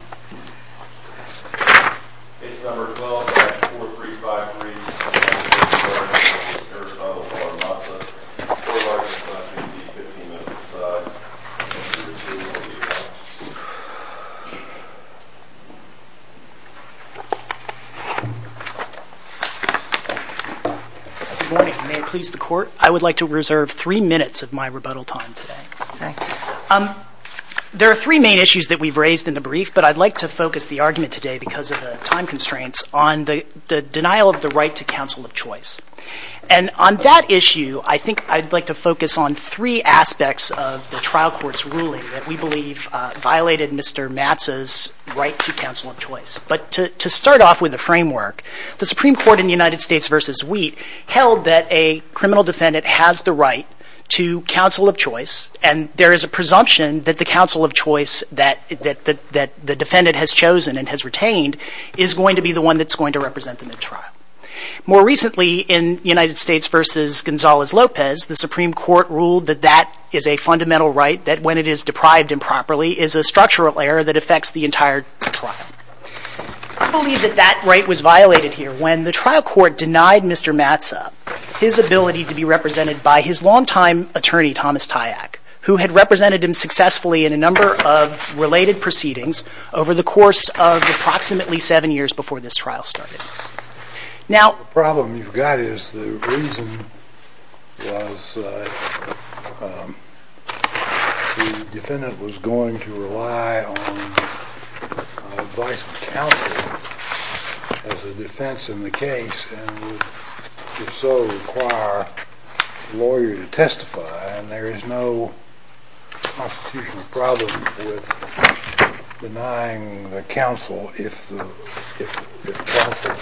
Good morning. May it please the court, I would like to reserve three minutes of my rebuttal time today. There are three main issues that we've raised in the brief, but I'd like to focus the argument today, because of the time constraints, on the denial of the right to counsel of choice. And on that issue, I think I'd like to focus on three aspects of the trial court's ruling that we believe violated Mr. Matsa's right to counsel of choice. But to start off with the framework, the Supreme Court in the United States v. Wheat held that a criminal defendant has the right to counsel of choice, and there is a presumption that the counsel of choice that the defendant has chosen and has retained is going to be the one that's going to represent them in trial. More recently, in United States v. Gonzales-Lopez, the Supreme Court ruled that that is a fundamental right, that when it is deprived improperly is a structural error that affects the entire trial. I believe that that right was violated here when the trial court denied Mr. Matsa his ability to be represented by his long-time attorney, Thomas Tyak, who had represented him successfully in a number of related proceedings over the course of approximately seven years before this trial started. The problem you've got is the reason was the defendant was going to rely on a vice counsel as a defense in the case and would if so require a lawyer to testify, and there is no constitutional problem with denying the counsel if the counsel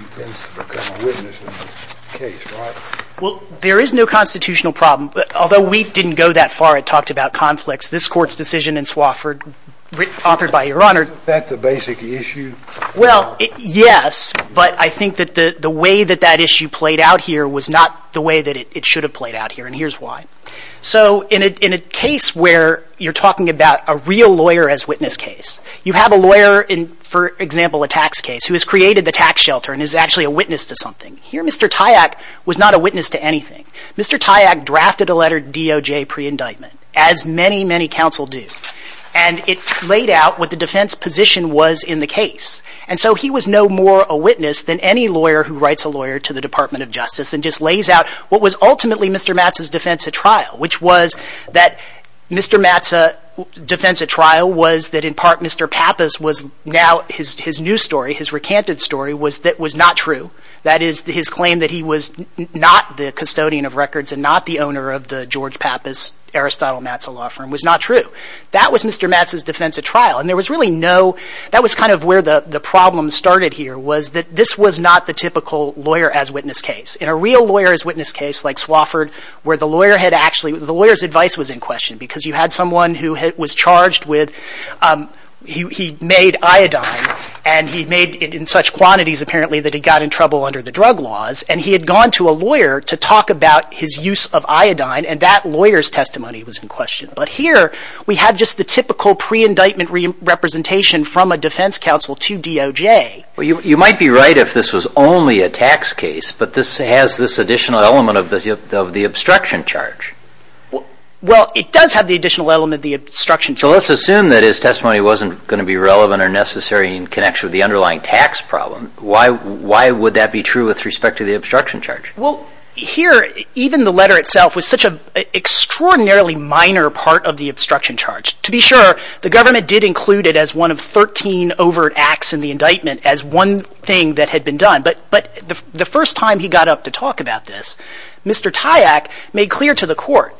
intends to become a witness in the case, right? Well, there is no constitutional problem. Although Wheat didn't go that far, it talked about conflicts, this Court's decision in Swofford, authored by Your Honor — Is that the basic issue? Well, yes, but I think that the way that that issue played out here was not the way that it should have played out here, and here's why. So in a case where you're talking about a real lawyer as witness case, you have a lawyer in, for example, a tax case who has created the tax shelter and is actually a witness to something. Here Mr. Tyak was not a witness to anything. Mr. Tyak drafted a letter to DOJ pre-indictment, as many, many counsel do, and it laid out what the defense position was in the case. And so he was no more a witness than any lawyer who writes a lawyer to the Department of Justice and just lays out what was ultimately Mr. Matz's defense at trial, which was that Mr. Matz's defense at trial was that, in part, Mr. Pappas was now — his new story, his recanted story was that was not true. That is, his claim that he was not the custodian of records and not the owner of the George Pappas-Aristotle Matz law firm was not true. That was Mr. Matz's defense at trial, and there was really no — that was kind of where the problem started here was that this was not the typical lawyer-as-witness case. In a real lawyer-as-witness case like Swofford, where the lawyer had actually — the lawyer's advice was in question, because you had someone who was charged with — he made iodine, and he made it in such quantities apparently that he got in trouble under the drug laws, and he had gone to a lawyer to talk about his use of iodine, and that lawyer's testimony was in question. But here we have just the typical pre-indictment representation from a defense counsel to DOJ. You might be right if this was only a tax case, but this has this additional element of the obstruction charge. Well, it does have the additional element of the obstruction charge. So let's assume that his testimony wasn't going to be relevant or necessary in connection with the underlying tax problem. Why would that be true with respect to the obstruction charge? Well, here, even the letter itself was such an extraordinarily minor part of the obstruction charge. To be sure, the government did include it as one of 13 overt acts in the indictment as one thing that had been done. But the first time he got up to talk about this, Mr. Tyak made clear to the court,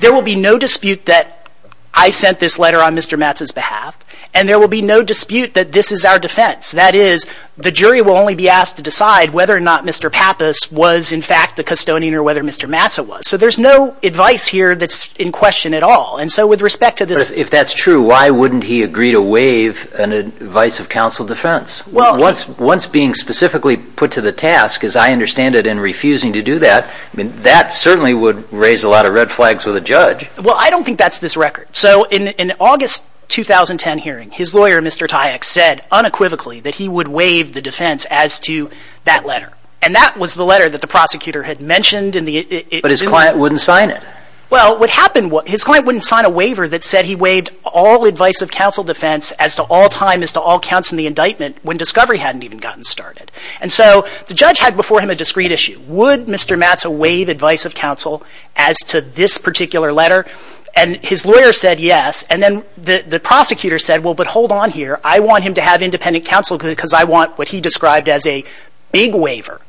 there will be no dispute that I sent this letter on Mr. Matz's behalf, and there will be no dispute that this is our defense. That is, the jury will only be asked to decide whether or not Mr. Pappas was, in fact, the custodian or whether Mr. Matz was. So there's no advice here that's in question at all. And so with respect to this... If that's true, why wouldn't he agree to waive an advice of counsel defense? Once being specifically put to the task, as I understand it, and refusing to do that, that certainly would raise a lot of red flags with a judge. Well, I don't think that's this record. So in an August 2010 hearing, his lawyer, Mr. Tyak, said unequivocally that he would waive the defense as to that letter. And that was the letter that the prosecutor had mentioned in the... But his client wouldn't sign it. Well, what happened was, his client wouldn't sign a waiver that said he waived all advice of counsel defense as to all time, as to all counts in the indictment, when discovery hadn't even gotten started. And so the judge had before him a discrete issue. Would Mr. Matz waive advice of counsel as to this particular letter? And his lawyer said yes. And then the prosecutor said, well, but hold on here. I want him to have independent counsel because I want what he described as a big waiver.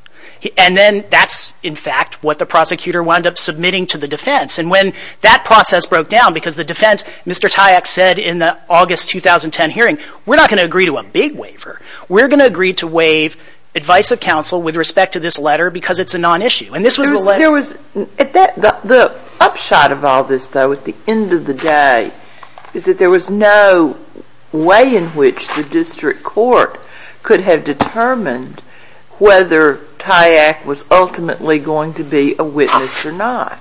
And then that's, in fact, what the prosecutor wound up submitting to the defense. And when that process broke down, because the defense, Mr. Tyak said in the August 2010 hearing, we're not going to agree to a big waiver. We're going to agree to waive advice of counsel with respect to this letter because it's a non-issue. And this was the letter... There was, at that, the upshot of all this, though, at the end of the day, is that there was no way in which the district court could have determined whether Tyak was ultimately going to be a witness or not.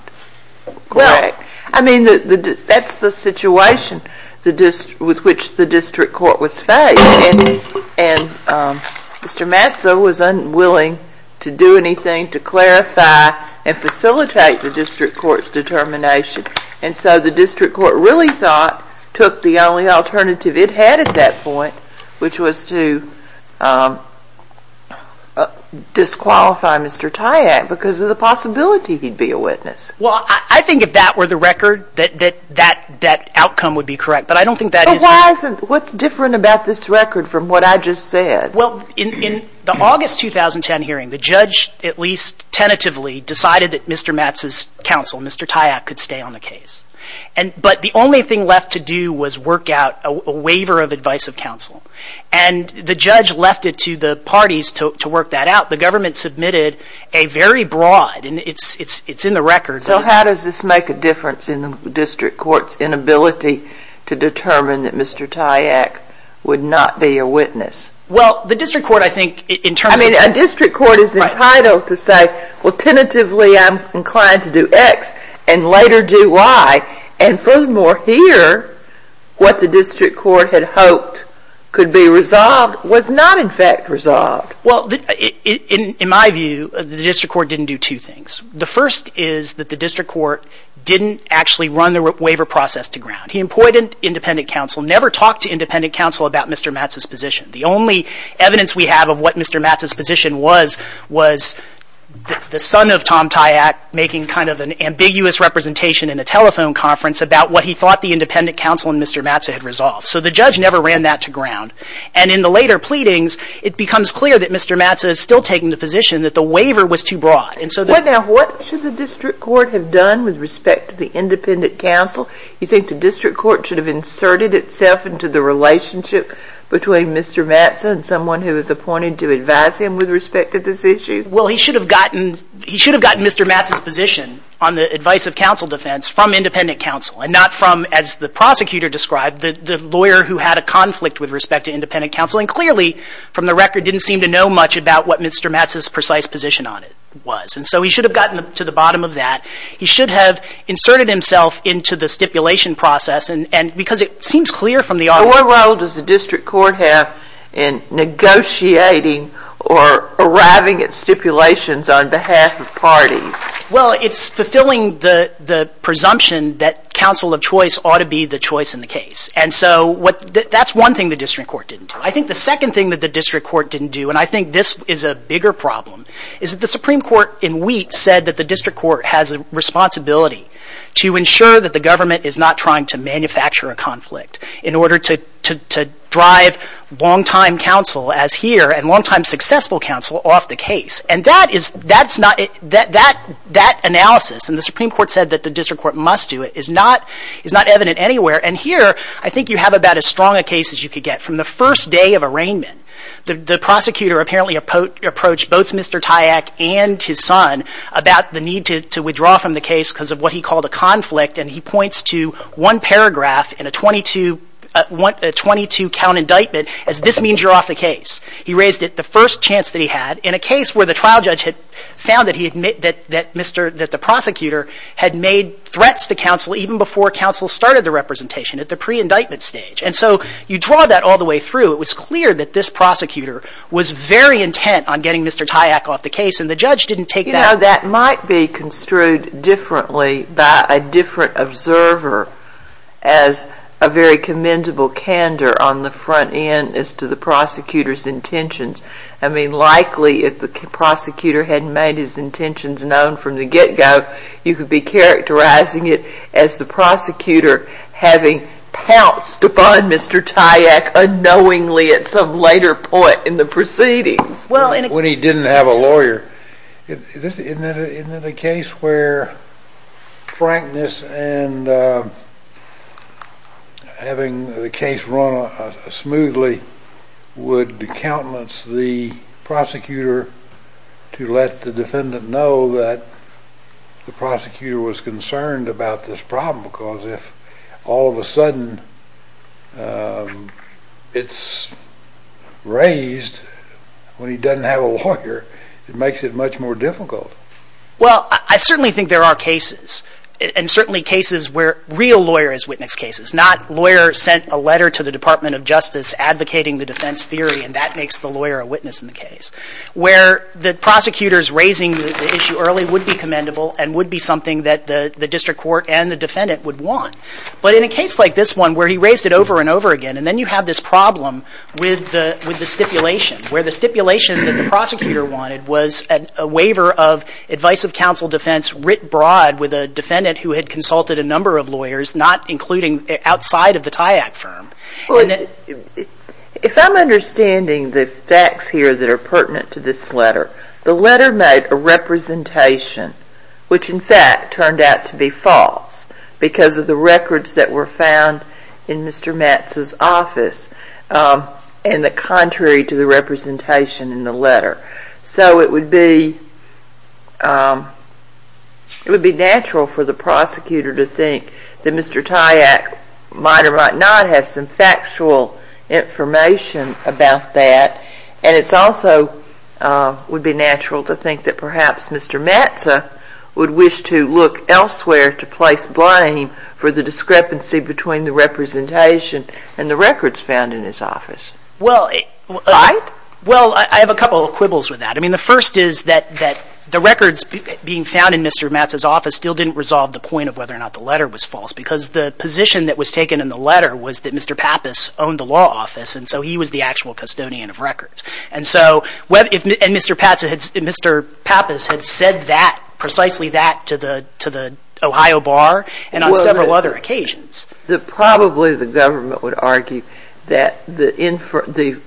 Well, I mean, that's the situation with which the district court was faced. And Mr. Matz was unwilling to do anything to clarify and facilitate the district court's determination. And so the district court really thought, took the only alternative it had at that point, which was to disqualify Mr. Tyak because he was not going to be a witness, because there's a possibility he'd be a witness. Well, I think if that were the record, that outcome would be correct. But I don't think that is... But why isn't? What's different about this record from what I just said? Well, in the August 2010 hearing, the judge, at least tentatively, decided that Mr. Matz's counsel, Mr. Tyak, could stay on the case. But the only thing left to do was work out a waiver of advice of counsel. And the judge left it to the parties to work that out. The case is very broad, and it's in the record. So how does this make a difference in the district court's inability to determine that Mr. Tyak would not be a witness? Well, the district court, I think, in terms of... I mean, a district court is entitled to say, well, tentatively, I'm inclined to do X and later do Y. And furthermore, here, what the district court had hoped could be resolved was not, in fact, resolved. Well, in my view, the district court didn't do two things. The first is that the district court didn't actually run the waiver process to ground. He employed an independent counsel, never talked to independent counsel about Mr. Matz's position. The only evidence we have of what Mr. Matz's position was, was the son of Tom Tyak making kind of an ambiguous representation in a telephone conference about what he thought the independent counsel and Mr. Matz had resolved. So the judge never ran that to ground. And in the later pleadings, it becomes clear that Mr. Matz is still taking the position that the waiver was too broad. Well, now, what should the district court have done with respect to the independent counsel? You think the district court should have inserted itself into the relationship between Mr. Matz and someone who was appointed to advise him with respect to this issue? Well, he should have gotten Mr. Matz's position on the advice of counsel defense from independent counsel and not from, as the prosecutor described, the lawyer who had a conflict with respect to independent counsel. And clearly, from the record, didn't seem to know much about what Mr. Matz's precise position on it was. And so he should have gotten to the bottom of that. He should have inserted himself into the stipulation process. And because it seems clear from the argument- What role does the district court have in negotiating or arriving at stipulations on behalf of parties? Well, it's fulfilling the presumption that counsel of choice ought to be the choice in the case. And so that's one thing the district court didn't do. I think the second thing that the district court didn't do, and I think this is a bigger problem, is that the Supreme Court in Wheat said that the district court has a responsibility to ensure that the government is not trying to manufacture a conflict in order to drive longtime counsel, as here, and longtime successful counsel off the case. And that analysis, and the Supreme Court said that the district court must do it, is not evident anywhere. And here, I think you have about as strong a case as you could get. From the first day of arraignment, the prosecutor apparently approached both Mr. Tyak and his son about the need to withdraw from the case because of what he called a conflict, and he points to one paragraph in a 22-count indictment as this means you're off the case. He raised it, the first chance that he had, in a case where the trial judge had found that the prosecutor had made threats to counsel even before counsel started the representation, at the pre-indictment stage. And so you draw that all the way through. It was clear that this prosecutor was very intent on getting Mr. Tyak off the case, and the judge didn't take that. You know, that might be construed differently by a different observer as a very commendable candor on the front end as to the prosecutor's intentions. I mean, likely, if the prosecutor hadn't made his intentions known from the get-go, you could be characterizing it as the prosecutor having pounced upon Mr. Tyak unknowingly at some later point in the proceedings. When he didn't have a lawyer. Isn't it a case where frankness and having the case run smoothly would countenance the prosecutor to let the defendant know that the prosecutor was concerned about this problem? Because if all of a sudden it's raised when he doesn't have a lawyer, it makes it much more difficult. Well, I certainly think there are cases, and certainly cases where real lawyers witness cases, not lawyers sent a letter to the Department of Justice advocating the defense theory and that makes the lawyer a witness in the case, where the prosecutors raising the issue early would be commendable and would be something that the district court and the defendant would want. But in a case like this one where he raised it over and over again, and then you have this problem with the stipulation, where the stipulation that the prosecutor wanted was a waiver of advice of counsel defense writ broad with a defendant who had consulted a lawyer outside of the TYAC firm. If I'm understanding the facts here that are pertinent to this letter, the letter made a representation which in fact turned out to be false because of the records that were found in Mr. Matz's office and the contrary to the representation in the letter. So it would be natural for the prosecutor to think that Mr. TYAC was a lawyer and that might or might not have some factual information about that and it's also would be natural to think that perhaps Mr. Matz would wish to look elsewhere to place blame for the discrepancy between the representation and the records found in his office. Well, I have a couple of quibbles with that. The first is that the records being found in Mr. Matz's office still didn't resolve the point of whether or not the letter was false because the position that was taken in the letter was that Mr. Pappas owned the law office and so he was the actual custodian of records and so Mr. Pappas had said that, precisely that to the Ohio Bar and on several other occasions. Probably the government would argue that the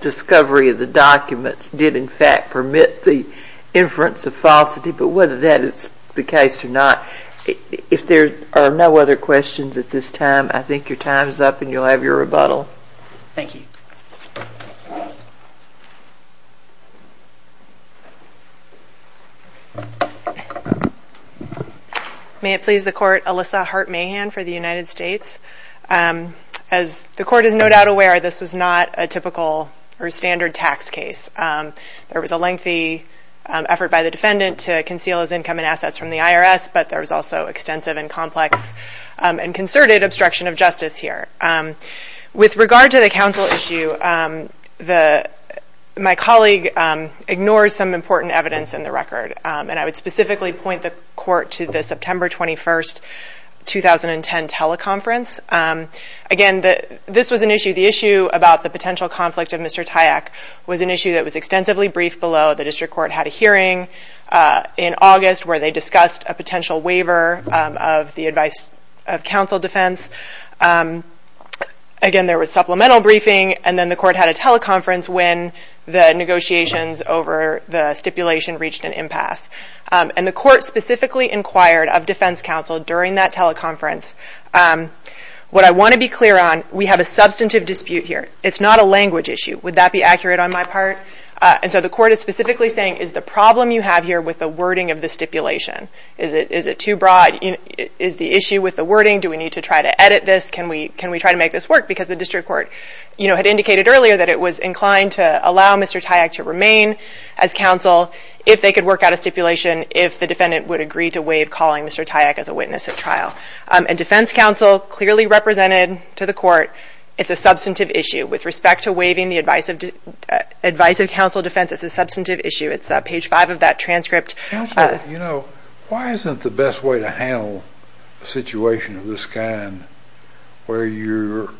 discovery of the documents did in fact permit the inference of falsity, but whether that is the case or not, if there are no other questions at this time, I think your time is up and you'll have your rebuttal. May it please the court, Alyssa Hart-Mahan for the United States. As the court is no doubt aware, this was not a typical or standard tax case. There was a lengthy effort by the defendant to conceal his income and assets from the IRS, but there was also extensive and complex and concerted obstruction of justice here. With regard to the counsel issue, my colleague ignores some important evidence in the record and I would specifically point the court to the September 21st, 2010 teleconference. Again this was an issue, the issue about the potential conflict of Mr. Tyak was an issue that was extensively briefed below. The district court had a hearing in August where they discussed a potential waiver of the advice of counsel defense. Again there was supplemental briefing and then the court had a teleconference when the negotiations over the stipulation reached an impasse. And the court specifically inquired of defense counsel during that teleconference. What I want to be clear on, we have a substantive dispute here. It's not a language issue. Would that be accurate on my part? And so the court is specifically saying, is the problem you have here with the wording of the stipulation, is it too broad, is the issue with the wording, do we need to try to edit this, can we try to make this work? Because the district court had indicated earlier that it was inclined to allow Mr. Tyak to remain as counsel if they could work out a stipulation, if the defendant would agree to waive calling Mr. Tyak as a witness at trial. And defense counsel clearly represented to the court, it's a substantive issue with respect to waiving the advice of counsel defense, it's a substantive issue. It's page five of that transcript. You know, why isn't the best way to handle a situation of this kind where you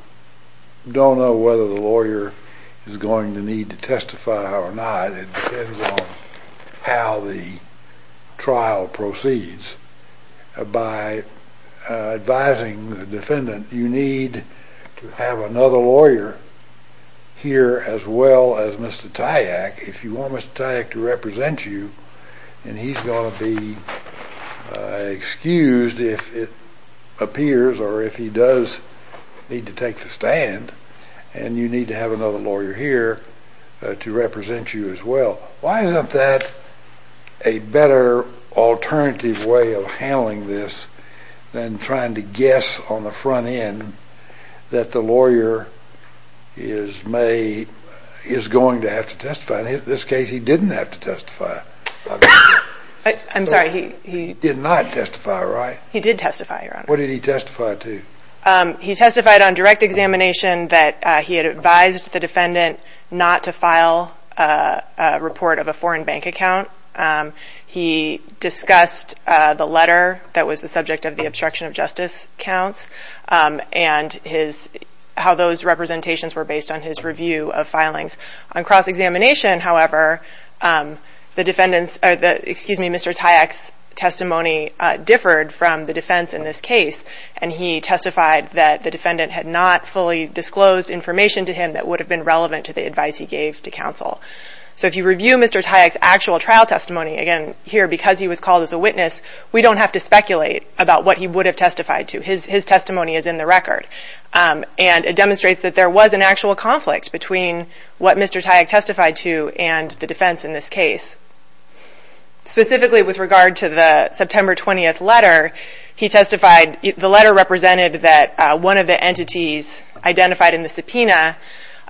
don't know whether the lawyer is going to need to testify or not, it depends on how the trial proceeds. By advising the defendant, you need to have another lawyer here as well as Mr. Tyak. If you want Mr. Tyak to represent you, then he's going to be excused if it appears or if he does need to take the stand, and you need to have another lawyer here to represent you as well. Why isn't that a better alternative way of handling this than trying to guess on the front end that the lawyer is going to have to testify? In this case, he didn't have to testify. I'm sorry, he did not testify, right? He did testify, Your Honor. What did he testify to? He testified on direct examination that he had advised the defendant not to file a report of a foreign bank account. He discussed the letter that was the subject of the obstruction of justice counts and how those representations were based on his review of filings. On cross-examination, however, Mr. Tyak's testimony differed from the defense in this case. Mr. Tyak testified that the defendant had not fully disclosed information to him that would have been relevant to the advice he gave to counsel. So if you review Mr. Tyak's actual trial testimony, again, here, because he was called as a witness, we don't have to speculate about what he would have testified to. His testimony is in the record, and it demonstrates that there was an actual conflict between what Mr. Tyak testified to and the defense in this case. Specifically, with regard to the September 20th letter, he testified, the letter represented that one of the entities identified in the subpoena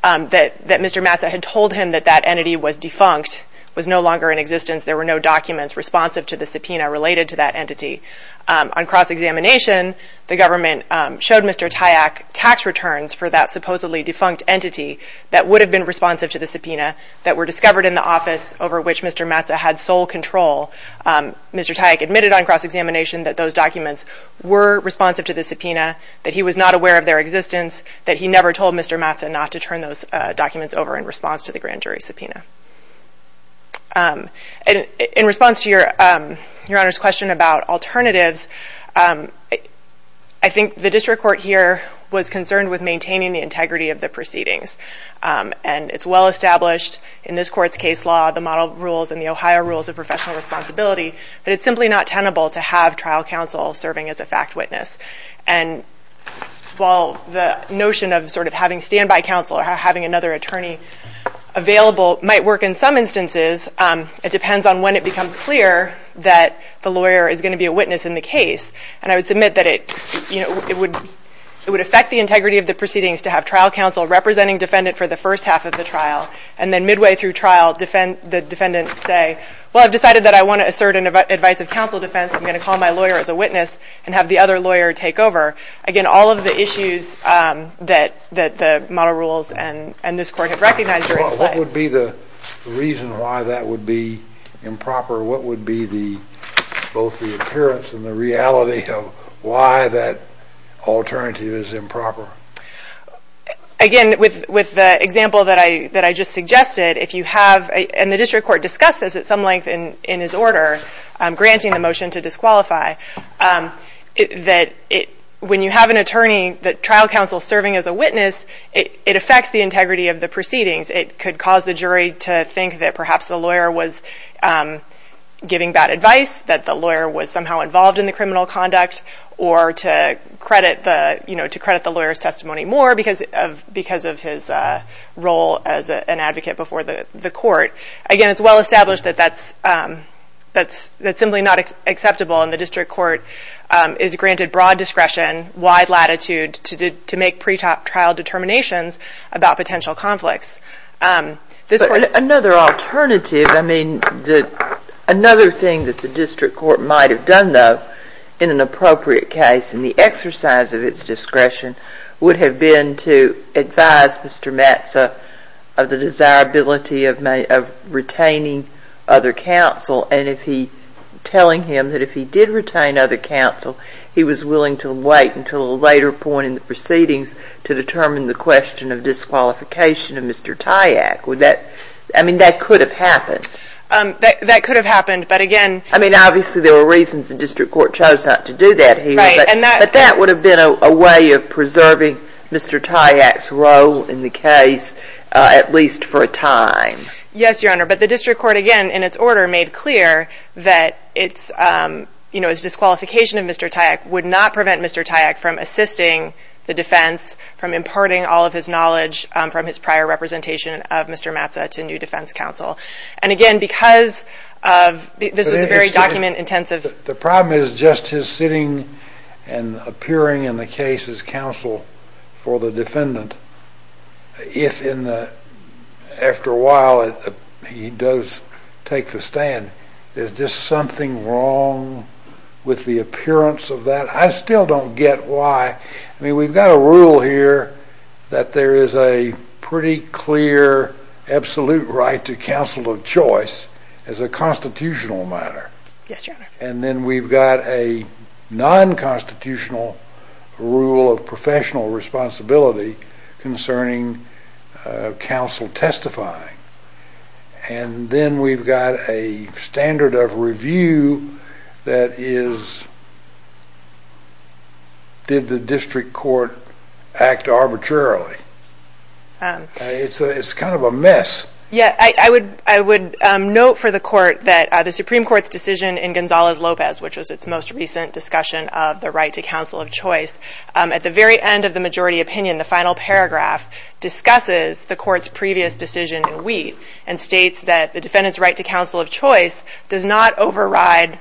that Mr. Massa had told him that that entity was defunct, was no longer in existence, there were no documents responsive to the subpoena related to that entity. On cross-examination, the government showed Mr. Tyak tax returns for that supposedly defunct entity that would have been responsive to the subpoena that were discovered in the office over which Mr. Massa had sole control. Mr. Tyak admitted on cross-examination that those documents were responsive to the subpoena, that he was not aware of their existence, that he never told Mr. Massa not to turn those documents over in response to the grand jury subpoena. In response to Your Honor's question about alternatives, I think the district court here was concerned with maintaining the integrity of the proceedings. It's well established in this court's case law, the model rules and the Ohio rules of professional responsibility, that it's simply not tenable to have trial counsel serving as a fact witness. While the notion of having standby counsel or having another attorney available might work in some instances, it depends on when it becomes clear that the lawyer is going to be a witness in the case. I would submit that it would affect the integrity of the proceedings to have trial counsel representing defendant for the first half of the trial. And then midway through trial, the defendant say, well, I've decided that I want to assert an advice of counsel defense, I'm going to call my lawyer as a witness and have the other lawyer take over. Again, all of the issues that the model rules and this court had recognized during the play. Well, what would be the reason why that would be improper? What would be both the appearance and the reality of why that alternative is improper? Again, with the example that I just suggested, if you have, and the district court discussed this at some length in his order, granting the motion to disqualify, that when you have an attorney that trial counsel is serving as a witness, it affects the integrity of the proceedings. It could cause the jury to think that perhaps the lawyer was giving bad advice, that the jury should have heard his testimony more because of his role as an advocate before the court. Again, it's well established that that's simply not acceptable and the district court is granted broad discretion, wide latitude to make pretrial determinations about potential conflicts. Another alternative, I mean, another thing that the district court might have done, though, in an appropriate case, in the exercise of its discretion, would have been to advise Mr. Matza of the desirability of retaining other counsel and if he, telling him that if he did retain other counsel, he was willing to wait until a later point in the proceedings to determine the question of disqualification of Mr. Tyak. Would that, I mean, that could have happened. That could have happened. I mean, obviously there were reasons the district court chose not to do that here, but that would have been a way of preserving Mr. Tyak's role in the case, at least for a time. Yes, Your Honor, but the district court, again, in its order made clear that its disqualification of Mr. Tyak would not prevent Mr. Tyak from assisting the defense, from imparting all of his knowledge from his prior representation of Mr. Matza to new defense counsel. And again, because this was a very document-intensive... The problem is just his sitting and appearing in the case as counsel for the defendant, if after a while he does take the stand, there's just something wrong with the appearance of that. I still don't get why. I mean, we've got a rule here that there is a pretty clear, absolute right to counsel of choice as a constitutional matter. Yes, Your Honor. And then we've got a non-constitutional rule of professional responsibility concerning counsel testifying. And then we've got a standard of review that is, did the district court act arbitrarily? It's kind of a mess. Yeah, I would note for the court that the Supreme Court's decision in Gonzalez-Lopez, which was its most recent discussion of the right to counsel of choice, at the very end of the majority opinion, the final paragraph, discusses the court's previous decision in Wheat and states that the defendant's right to counsel of choice does not override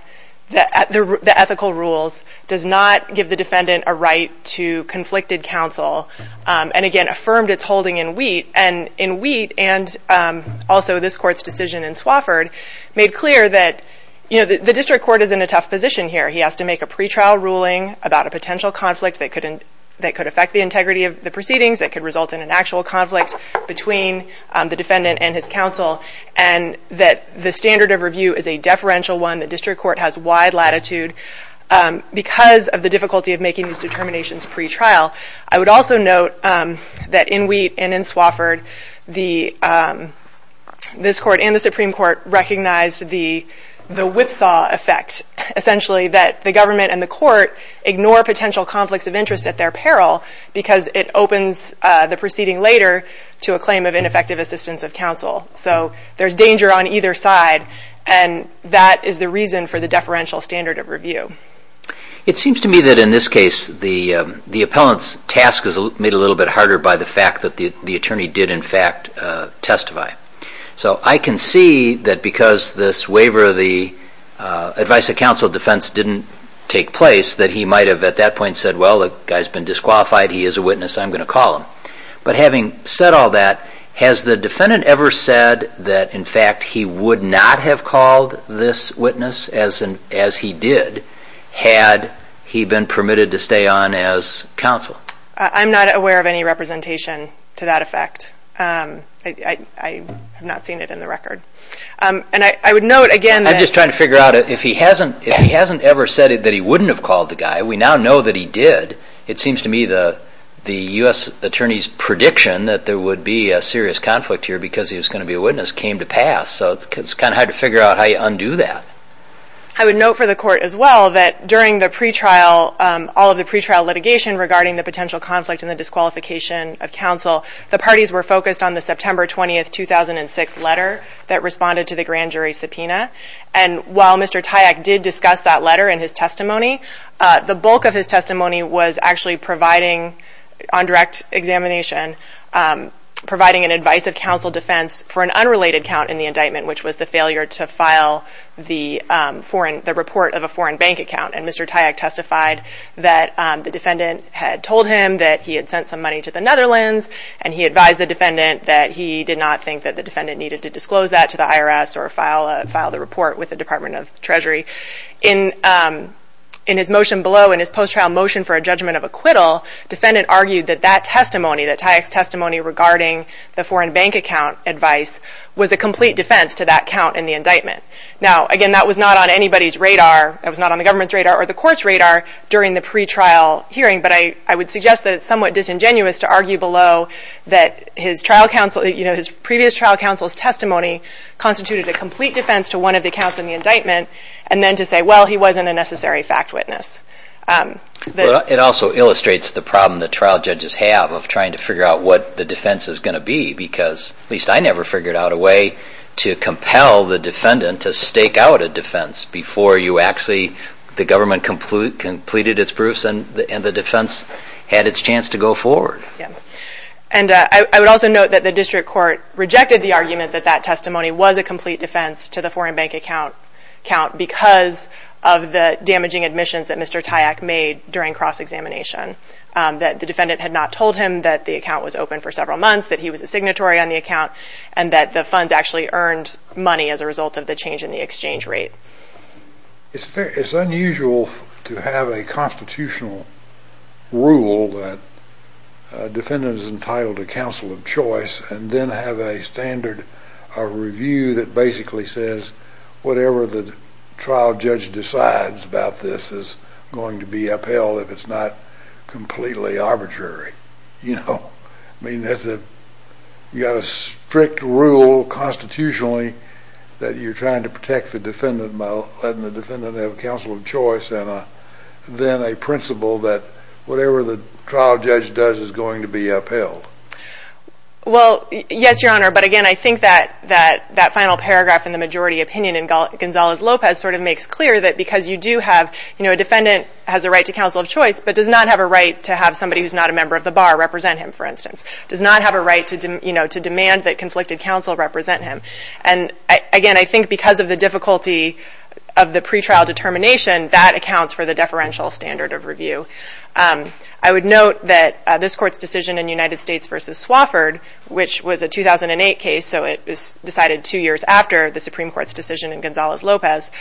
the ethical rules, does not give the defendant a right to conflicted counsel, and again, affirmed its holding in Wheat. And in Wheat, and also this court's decision in Swafford, made clear that the district court is in a tough position here. He has to make a pretrial ruling about a potential conflict that could affect the integrity of the proceedings, that could result in an actual conflict between the defendant and his counsel, and that the standard of review is a deferential one, the district court has wide latitude because of the difficulty of making these determinations pretrial. I would also note that in Wheat and in Swafford, this court and the Supreme Court recognized the whipsaw effect, essentially, that the government and the court ignore potential conflicts of interest at their peril because it opens the proceeding later to a claim of ineffective assistance of counsel. So there's danger on either side, and that is the reason for the deferential standard of review. It seems to me that in this case, the appellant's task is made a little bit harder by the fact that the attorney did, in fact, testify. So I can see that because this waiver of the advice of counsel defense didn't take place that he might have, at that point, said, well, the guy's been disqualified, he is a witness, I'm going to call him. But having said all that, has the defendant ever said that, in fact, he would not have called this witness as he did had he been permitted to stay on as counsel? I'm not aware of any representation to that effect. I have not seen it in the record. And I would note, again, that... I'm just trying to figure out, if he hasn't ever said that he wouldn't have called the guy, we now know that he did, it seems to me the U.S. attorney's prediction that there would be a serious conflict here because he was going to be a witness came to pass. So it's kind of hard to figure out how you undo that. I would note for the court, as well, that during the pretrial, all of the pretrial litigation regarding the potential conflict and the disqualification of counsel, the parties were focused on the September 20, 2006 letter that responded to the grand jury subpoena. And while Mr. Tayack did discuss that letter in his testimony, the bulk of his testimony was actually providing, on direct examination, providing an advice of counsel defense for an unrelated count in the indictment, which was the failure to file the report of a foreign bank account. And Mr. Tayack testified that the defendant had told him that he had sent some money to the Netherlands, and he advised the defendant that he did not think that the defendant needed to disclose that to the IRS or file the report with the Department of Treasury. In his motion below, in his post-trial motion for a judgment of acquittal, defendant argued that that testimony, that Tayack's testimony regarding the foreign bank account advice, was a complete defense to that count in the indictment. Now, again, that was not on anybody's radar, that was not on the government's radar or the court's radar during the pretrial hearing, but I would suggest that it's somewhat disingenuous to argue below that his trial counsel, you know, his previous trial counsel's testimony constituted a complete defense to one of the counts in the indictment, and then to say, well, he wasn't a necessary fact witness. It also illustrates the problem that trial judges have of trying to figure out what the out a defense before you actually, the government completed its proofs and the defense had its chance to go forward. And I would also note that the district court rejected the argument that that testimony was a complete defense to the foreign bank account because of the damaging admissions that Mr. Tayack made during cross-examination, that the defendant had not told him that the account was open for several months, that he was a signatory on the account, and that the funds actually earned money as a result of the change in the exchange rate. It's unusual to have a constitutional rule that a defendant is entitled to counsel of choice and then have a standard, a review that basically says whatever the trial judge decides about this is going to be upheld if it's not completely arbitrary, you know? I mean, you've got a strict rule constitutionally that you're trying to protect the defendant by letting the defendant have counsel of choice and then a principle that whatever the trial judge does is going to be upheld. Well, yes, Your Honor, but again, I think that that final paragraph in the majority opinion in Gonzalez-Lopez sort of makes clear that because you do have, you know, a defendant has a right to counsel of choice but does not have a right to have somebody who's not a member of the bar represent him, for instance, does not have a right to demand that conflicted counsel represent him. And again, I think because of the difficulty of the pretrial determination, that accounts for the deferential standard of review. I would note that this Court's decision in United States v. Swofford, which was a 2008 case, so it was decided two years after the Supreme Court's decision in Gonzalez-Lopez,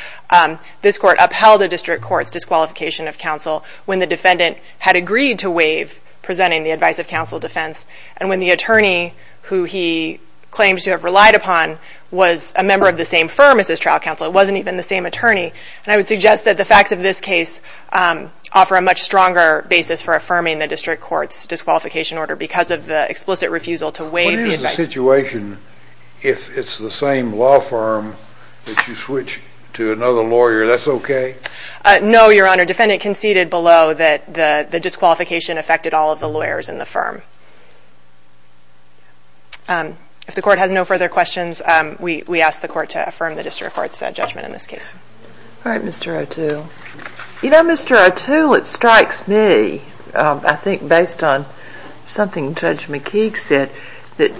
this Court upheld a district court's disqualification of counsel when the defendant had agreed to presenting the advice of counsel defense. And when the attorney who he claims to have relied upon was a member of the same firm as his trial counsel, it wasn't even the same attorney, and I would suggest that the facts of this case offer a much stronger basis for affirming the district court's disqualification order because of the explicit refusal to waive the advice. What is the situation if it's the same law firm that you switch to another lawyer? That's okay? No, Your Honor. Our defendant conceded below that the disqualification affected all of the lawyers in the firm. If the Court has no further questions, we ask the Court to affirm the district court's judgment in this case. All right, Mr. O'Toole. You know, Mr. O'Toole, it strikes me, I think based on something Judge McKeague said, that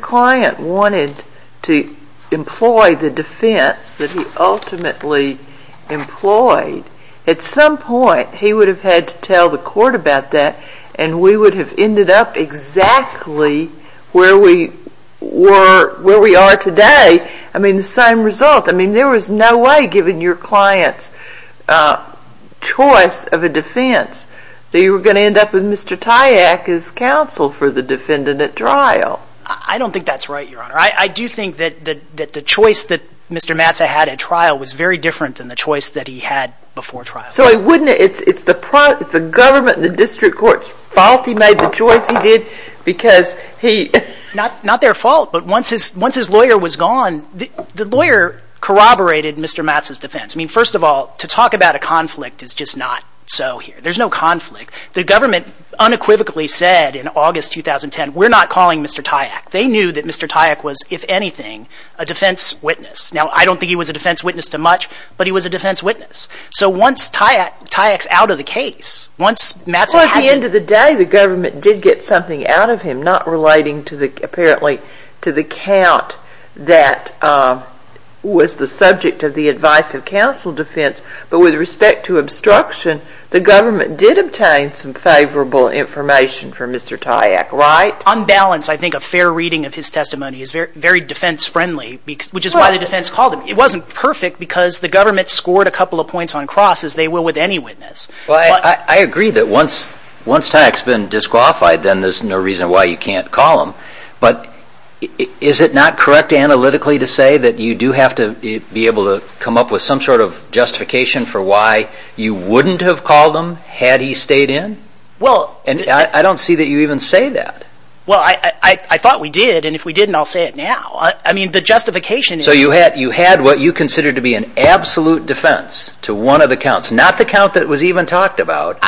client wanted to employ the defense that he ultimately employed, at some point he would have had to tell the Court about that, and we would have ended up exactly where we were, where we are today. I mean, the same result. I mean, there was no way, given your client's choice of a defense, that you were going to end up with Mr. Tyak as counsel for the defendant at trial. I don't think that's right, Your Honor. I do think that the choice that Mr. Matzah had at trial was very different than the choice that he had before trial. So it's the government and the district court's fault he made the choice he did? Not their fault, but once his lawyer was gone, the lawyer corroborated Mr. Matzah's defense. I mean, first of all, to talk about a conflict is just not so here. There's no conflict. The government unequivocally said in August 2010, we're not calling Mr. Tyak. They knew that Mr. Tyak was, if anything, a defense witness. Now I don't think he was a defense witness to much, but he was a defense witness. So once Tyak's out of the case, once Matzah had... Well, at the end of the day, the government did get something out of him, not relating to the, apparently, to the count that was the subject of the advice of counsel defense, but with respect to obstruction, the government did obtain some favorable information for Mr. Tyak, right? On balance, I think a fair reading of his testimony is very defense friendly, which is why the defense called him. It wasn't perfect because the government scored a couple of points on cross, as they will with any witness. Well, I agree that once Tyak's been disqualified, then there's no reason why you can't call him. But is it not correct analytically to say that you do have to be able to come up with some sort of justification for why you wouldn't have called him had he stayed in? And I don't see that you even say that. Well, I thought we did, and if we didn't, I'll say it now. I mean, the justification is... So you had what you considered to be an absolute defense to one of the counts, not the count that was even talked about,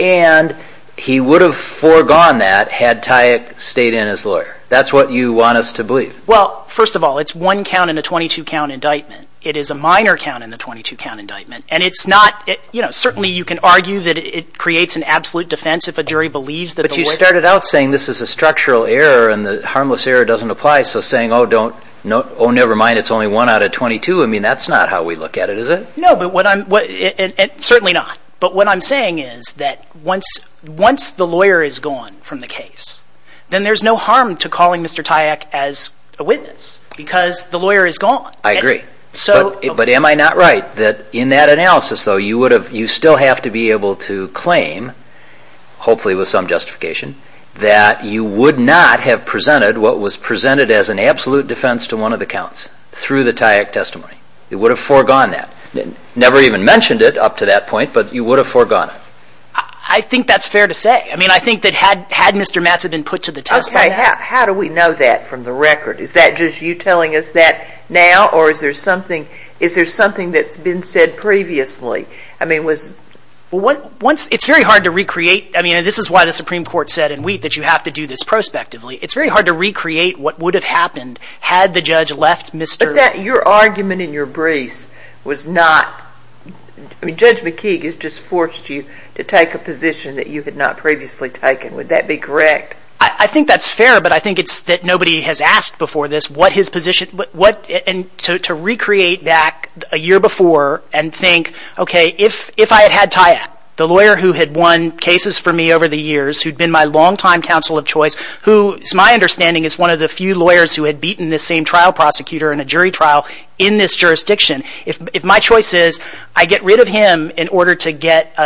and he would have foregone that had Tyak stayed in as lawyer. That's what you want us to believe. Well, first of all, it's one count in a 22 count indictment. It is a minor count in the 22 count indictment, and it's not, you know, certainly you can argue that it creates an absolute defense if a jury believes that the witness... But you started out saying this is a structural error and the harmless error doesn't apply, so saying, oh, never mind, it's only one out of 22, I mean, that's not how we look at it, is it? No, but what I'm... Certainly not. But what I'm saying is that once the lawyer is gone from the case, then there's no harm to calling Mr. Tyak as a witness because the lawyer is gone. I agree, but am I not right that in that analysis, though, you would have... You still have to be able to claim, hopefully with some justification, that you would not have presented what was presented as an absolute defense to one of the counts through the Tyak testimony. It would have foregone that. Never even mentioned it up to that point, but you would have foregone it. I think that's fair to say. I mean, I think that had Mr. Matz had been put to the test... Okay, how do we know that from the record? Is that just you telling us that now, or is there something that's been said previously? I mean, was... It's very hard to recreate. I mean, and this is why the Supreme Court said in Wheat that you have to do this prospectively. It's very hard to recreate what would have happened had the judge left Mr... Your argument in your briefs was not... I mean, Judge McKeague has just forced you to take a position that you had not previously taken. Would that be correct? I think that's fair, but I think it's that nobody has asked before this what his position... To recreate back a year before and think, okay, if I had had Tyak, the lawyer who had won cases for me over the years, who'd been my longtime counsel of choice, who is my understanding is one of the few lawyers who had beaten the same trial prosecutor in a jury trial in this jurisdiction. If my choice is I get rid of him in order to get,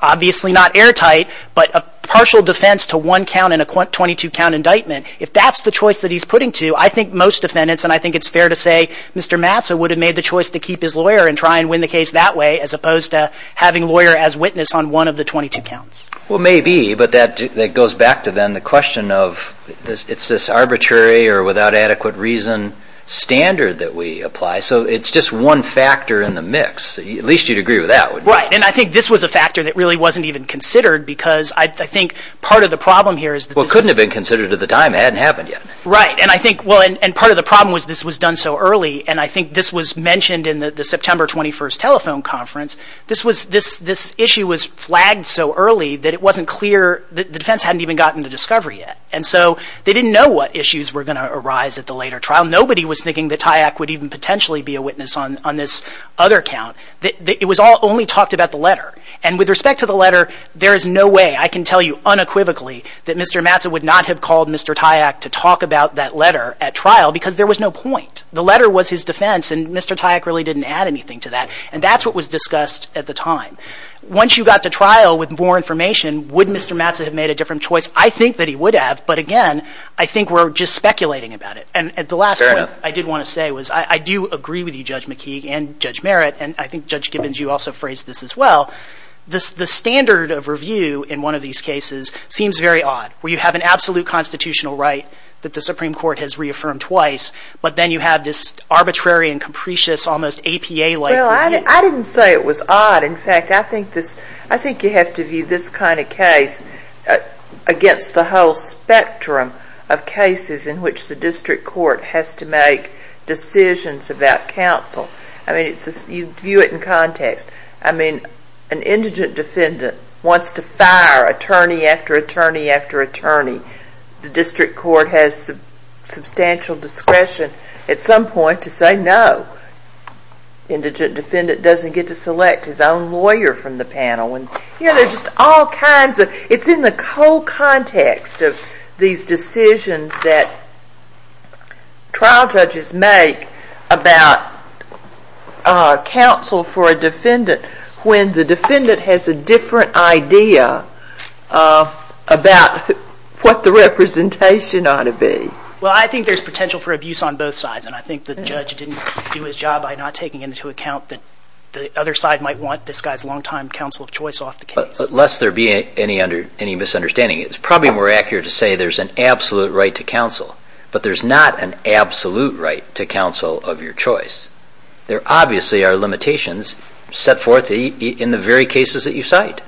obviously not airtight, but a partial defense to one count in a 22 count indictment, if that's the choice that he's putting to, I think most defendants, and I think it's fair to say, Mr. Matzo would have made the choice to keep his lawyer and try and win the case that way as opposed to having lawyer as witness on one of the 22 counts. Well maybe, but that goes back to then the question of it's this arbitrary or without adequate reason standard that we apply. So it's just one factor in the mix. At least you'd agree with that, wouldn't you? Right. Right. And I think this was a factor that really wasn't even considered because I think part of the problem here is- Well, it couldn't have been considered at the time. It hadn't happened yet. Right. And I think, well, and part of the problem was this was done so early. And I think this was mentioned in the September 21st telephone conference. This was, this issue was flagged so early that it wasn't clear, the defense hadn't even gotten to discovery yet. And so they didn't know what issues were going to arise at the later trial. Nobody was thinking that Tyak would even potentially be a witness on this other count. It was all only talked about the letter. And with respect to the letter, there is no way I can tell you unequivocally that Mr. Matzo would not have called Mr. Tyak to talk about that letter at trial because there was no point. The letter was his defense and Mr. Tyak really didn't add anything to that. And that's what was discussed at the time. Once you got to trial with more information, would Mr. Matzo have made a different choice? I think that he would have, but again, I think we're just speculating about it. And at the last point- Fair enough. What I wanted to say was I do agree with you, Judge McKee and Judge Merritt, and I think Judge Gibbons, you also phrased this as well. The standard of review in one of these cases seems very odd, where you have an absolute constitutional right that the Supreme Court has reaffirmed twice, but then you have this arbitrary and capricious, almost APA-like review. I didn't say it was odd. In fact, I think this, I think you have to view this kind of case against the whole spectrum of cases in which the district court has to make decisions about counsel. I mean, you view it in context. I mean, an indigent defendant wants to fire attorney after attorney after attorney. The district court has substantial discretion at some point to say no. Indigent defendant doesn't get to select his own lawyer from the panel. You know, there's just all kinds of, it's in the whole context of these decisions that trial judges make about counsel for a defendant when the defendant has a different idea about what the representation ought to be. Well, I think there's potential for abuse on both sides, and I think the judge didn't do his job by not taking into account that the other side might want this guy's long-time counsel of choice off the case. But lest there be any misunderstanding, it's probably more accurate to say there's an absolute right to counsel, but there's not an absolute right to counsel of your choice. There obviously are limitations set forth in the very cases that you cite.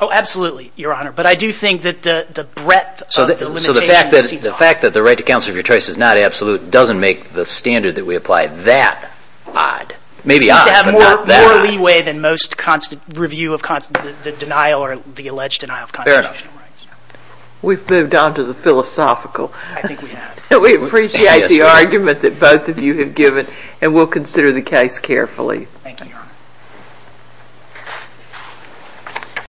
Oh, absolutely, Your Honor. But I do think that the breadth of the limitation exceeds all. So the fact that the right to counsel of your choice is not absolute doesn't make the standard that we apply that odd. Maybe odd, but not that odd. There's more leeway than most review of the denial or the alleged denial of constitutional rights. Fair enough. We've moved on to the philosophical. I think we have. We appreciate the argument that both of you have given, and we'll consider the case carefully. Thank you, Your Honor.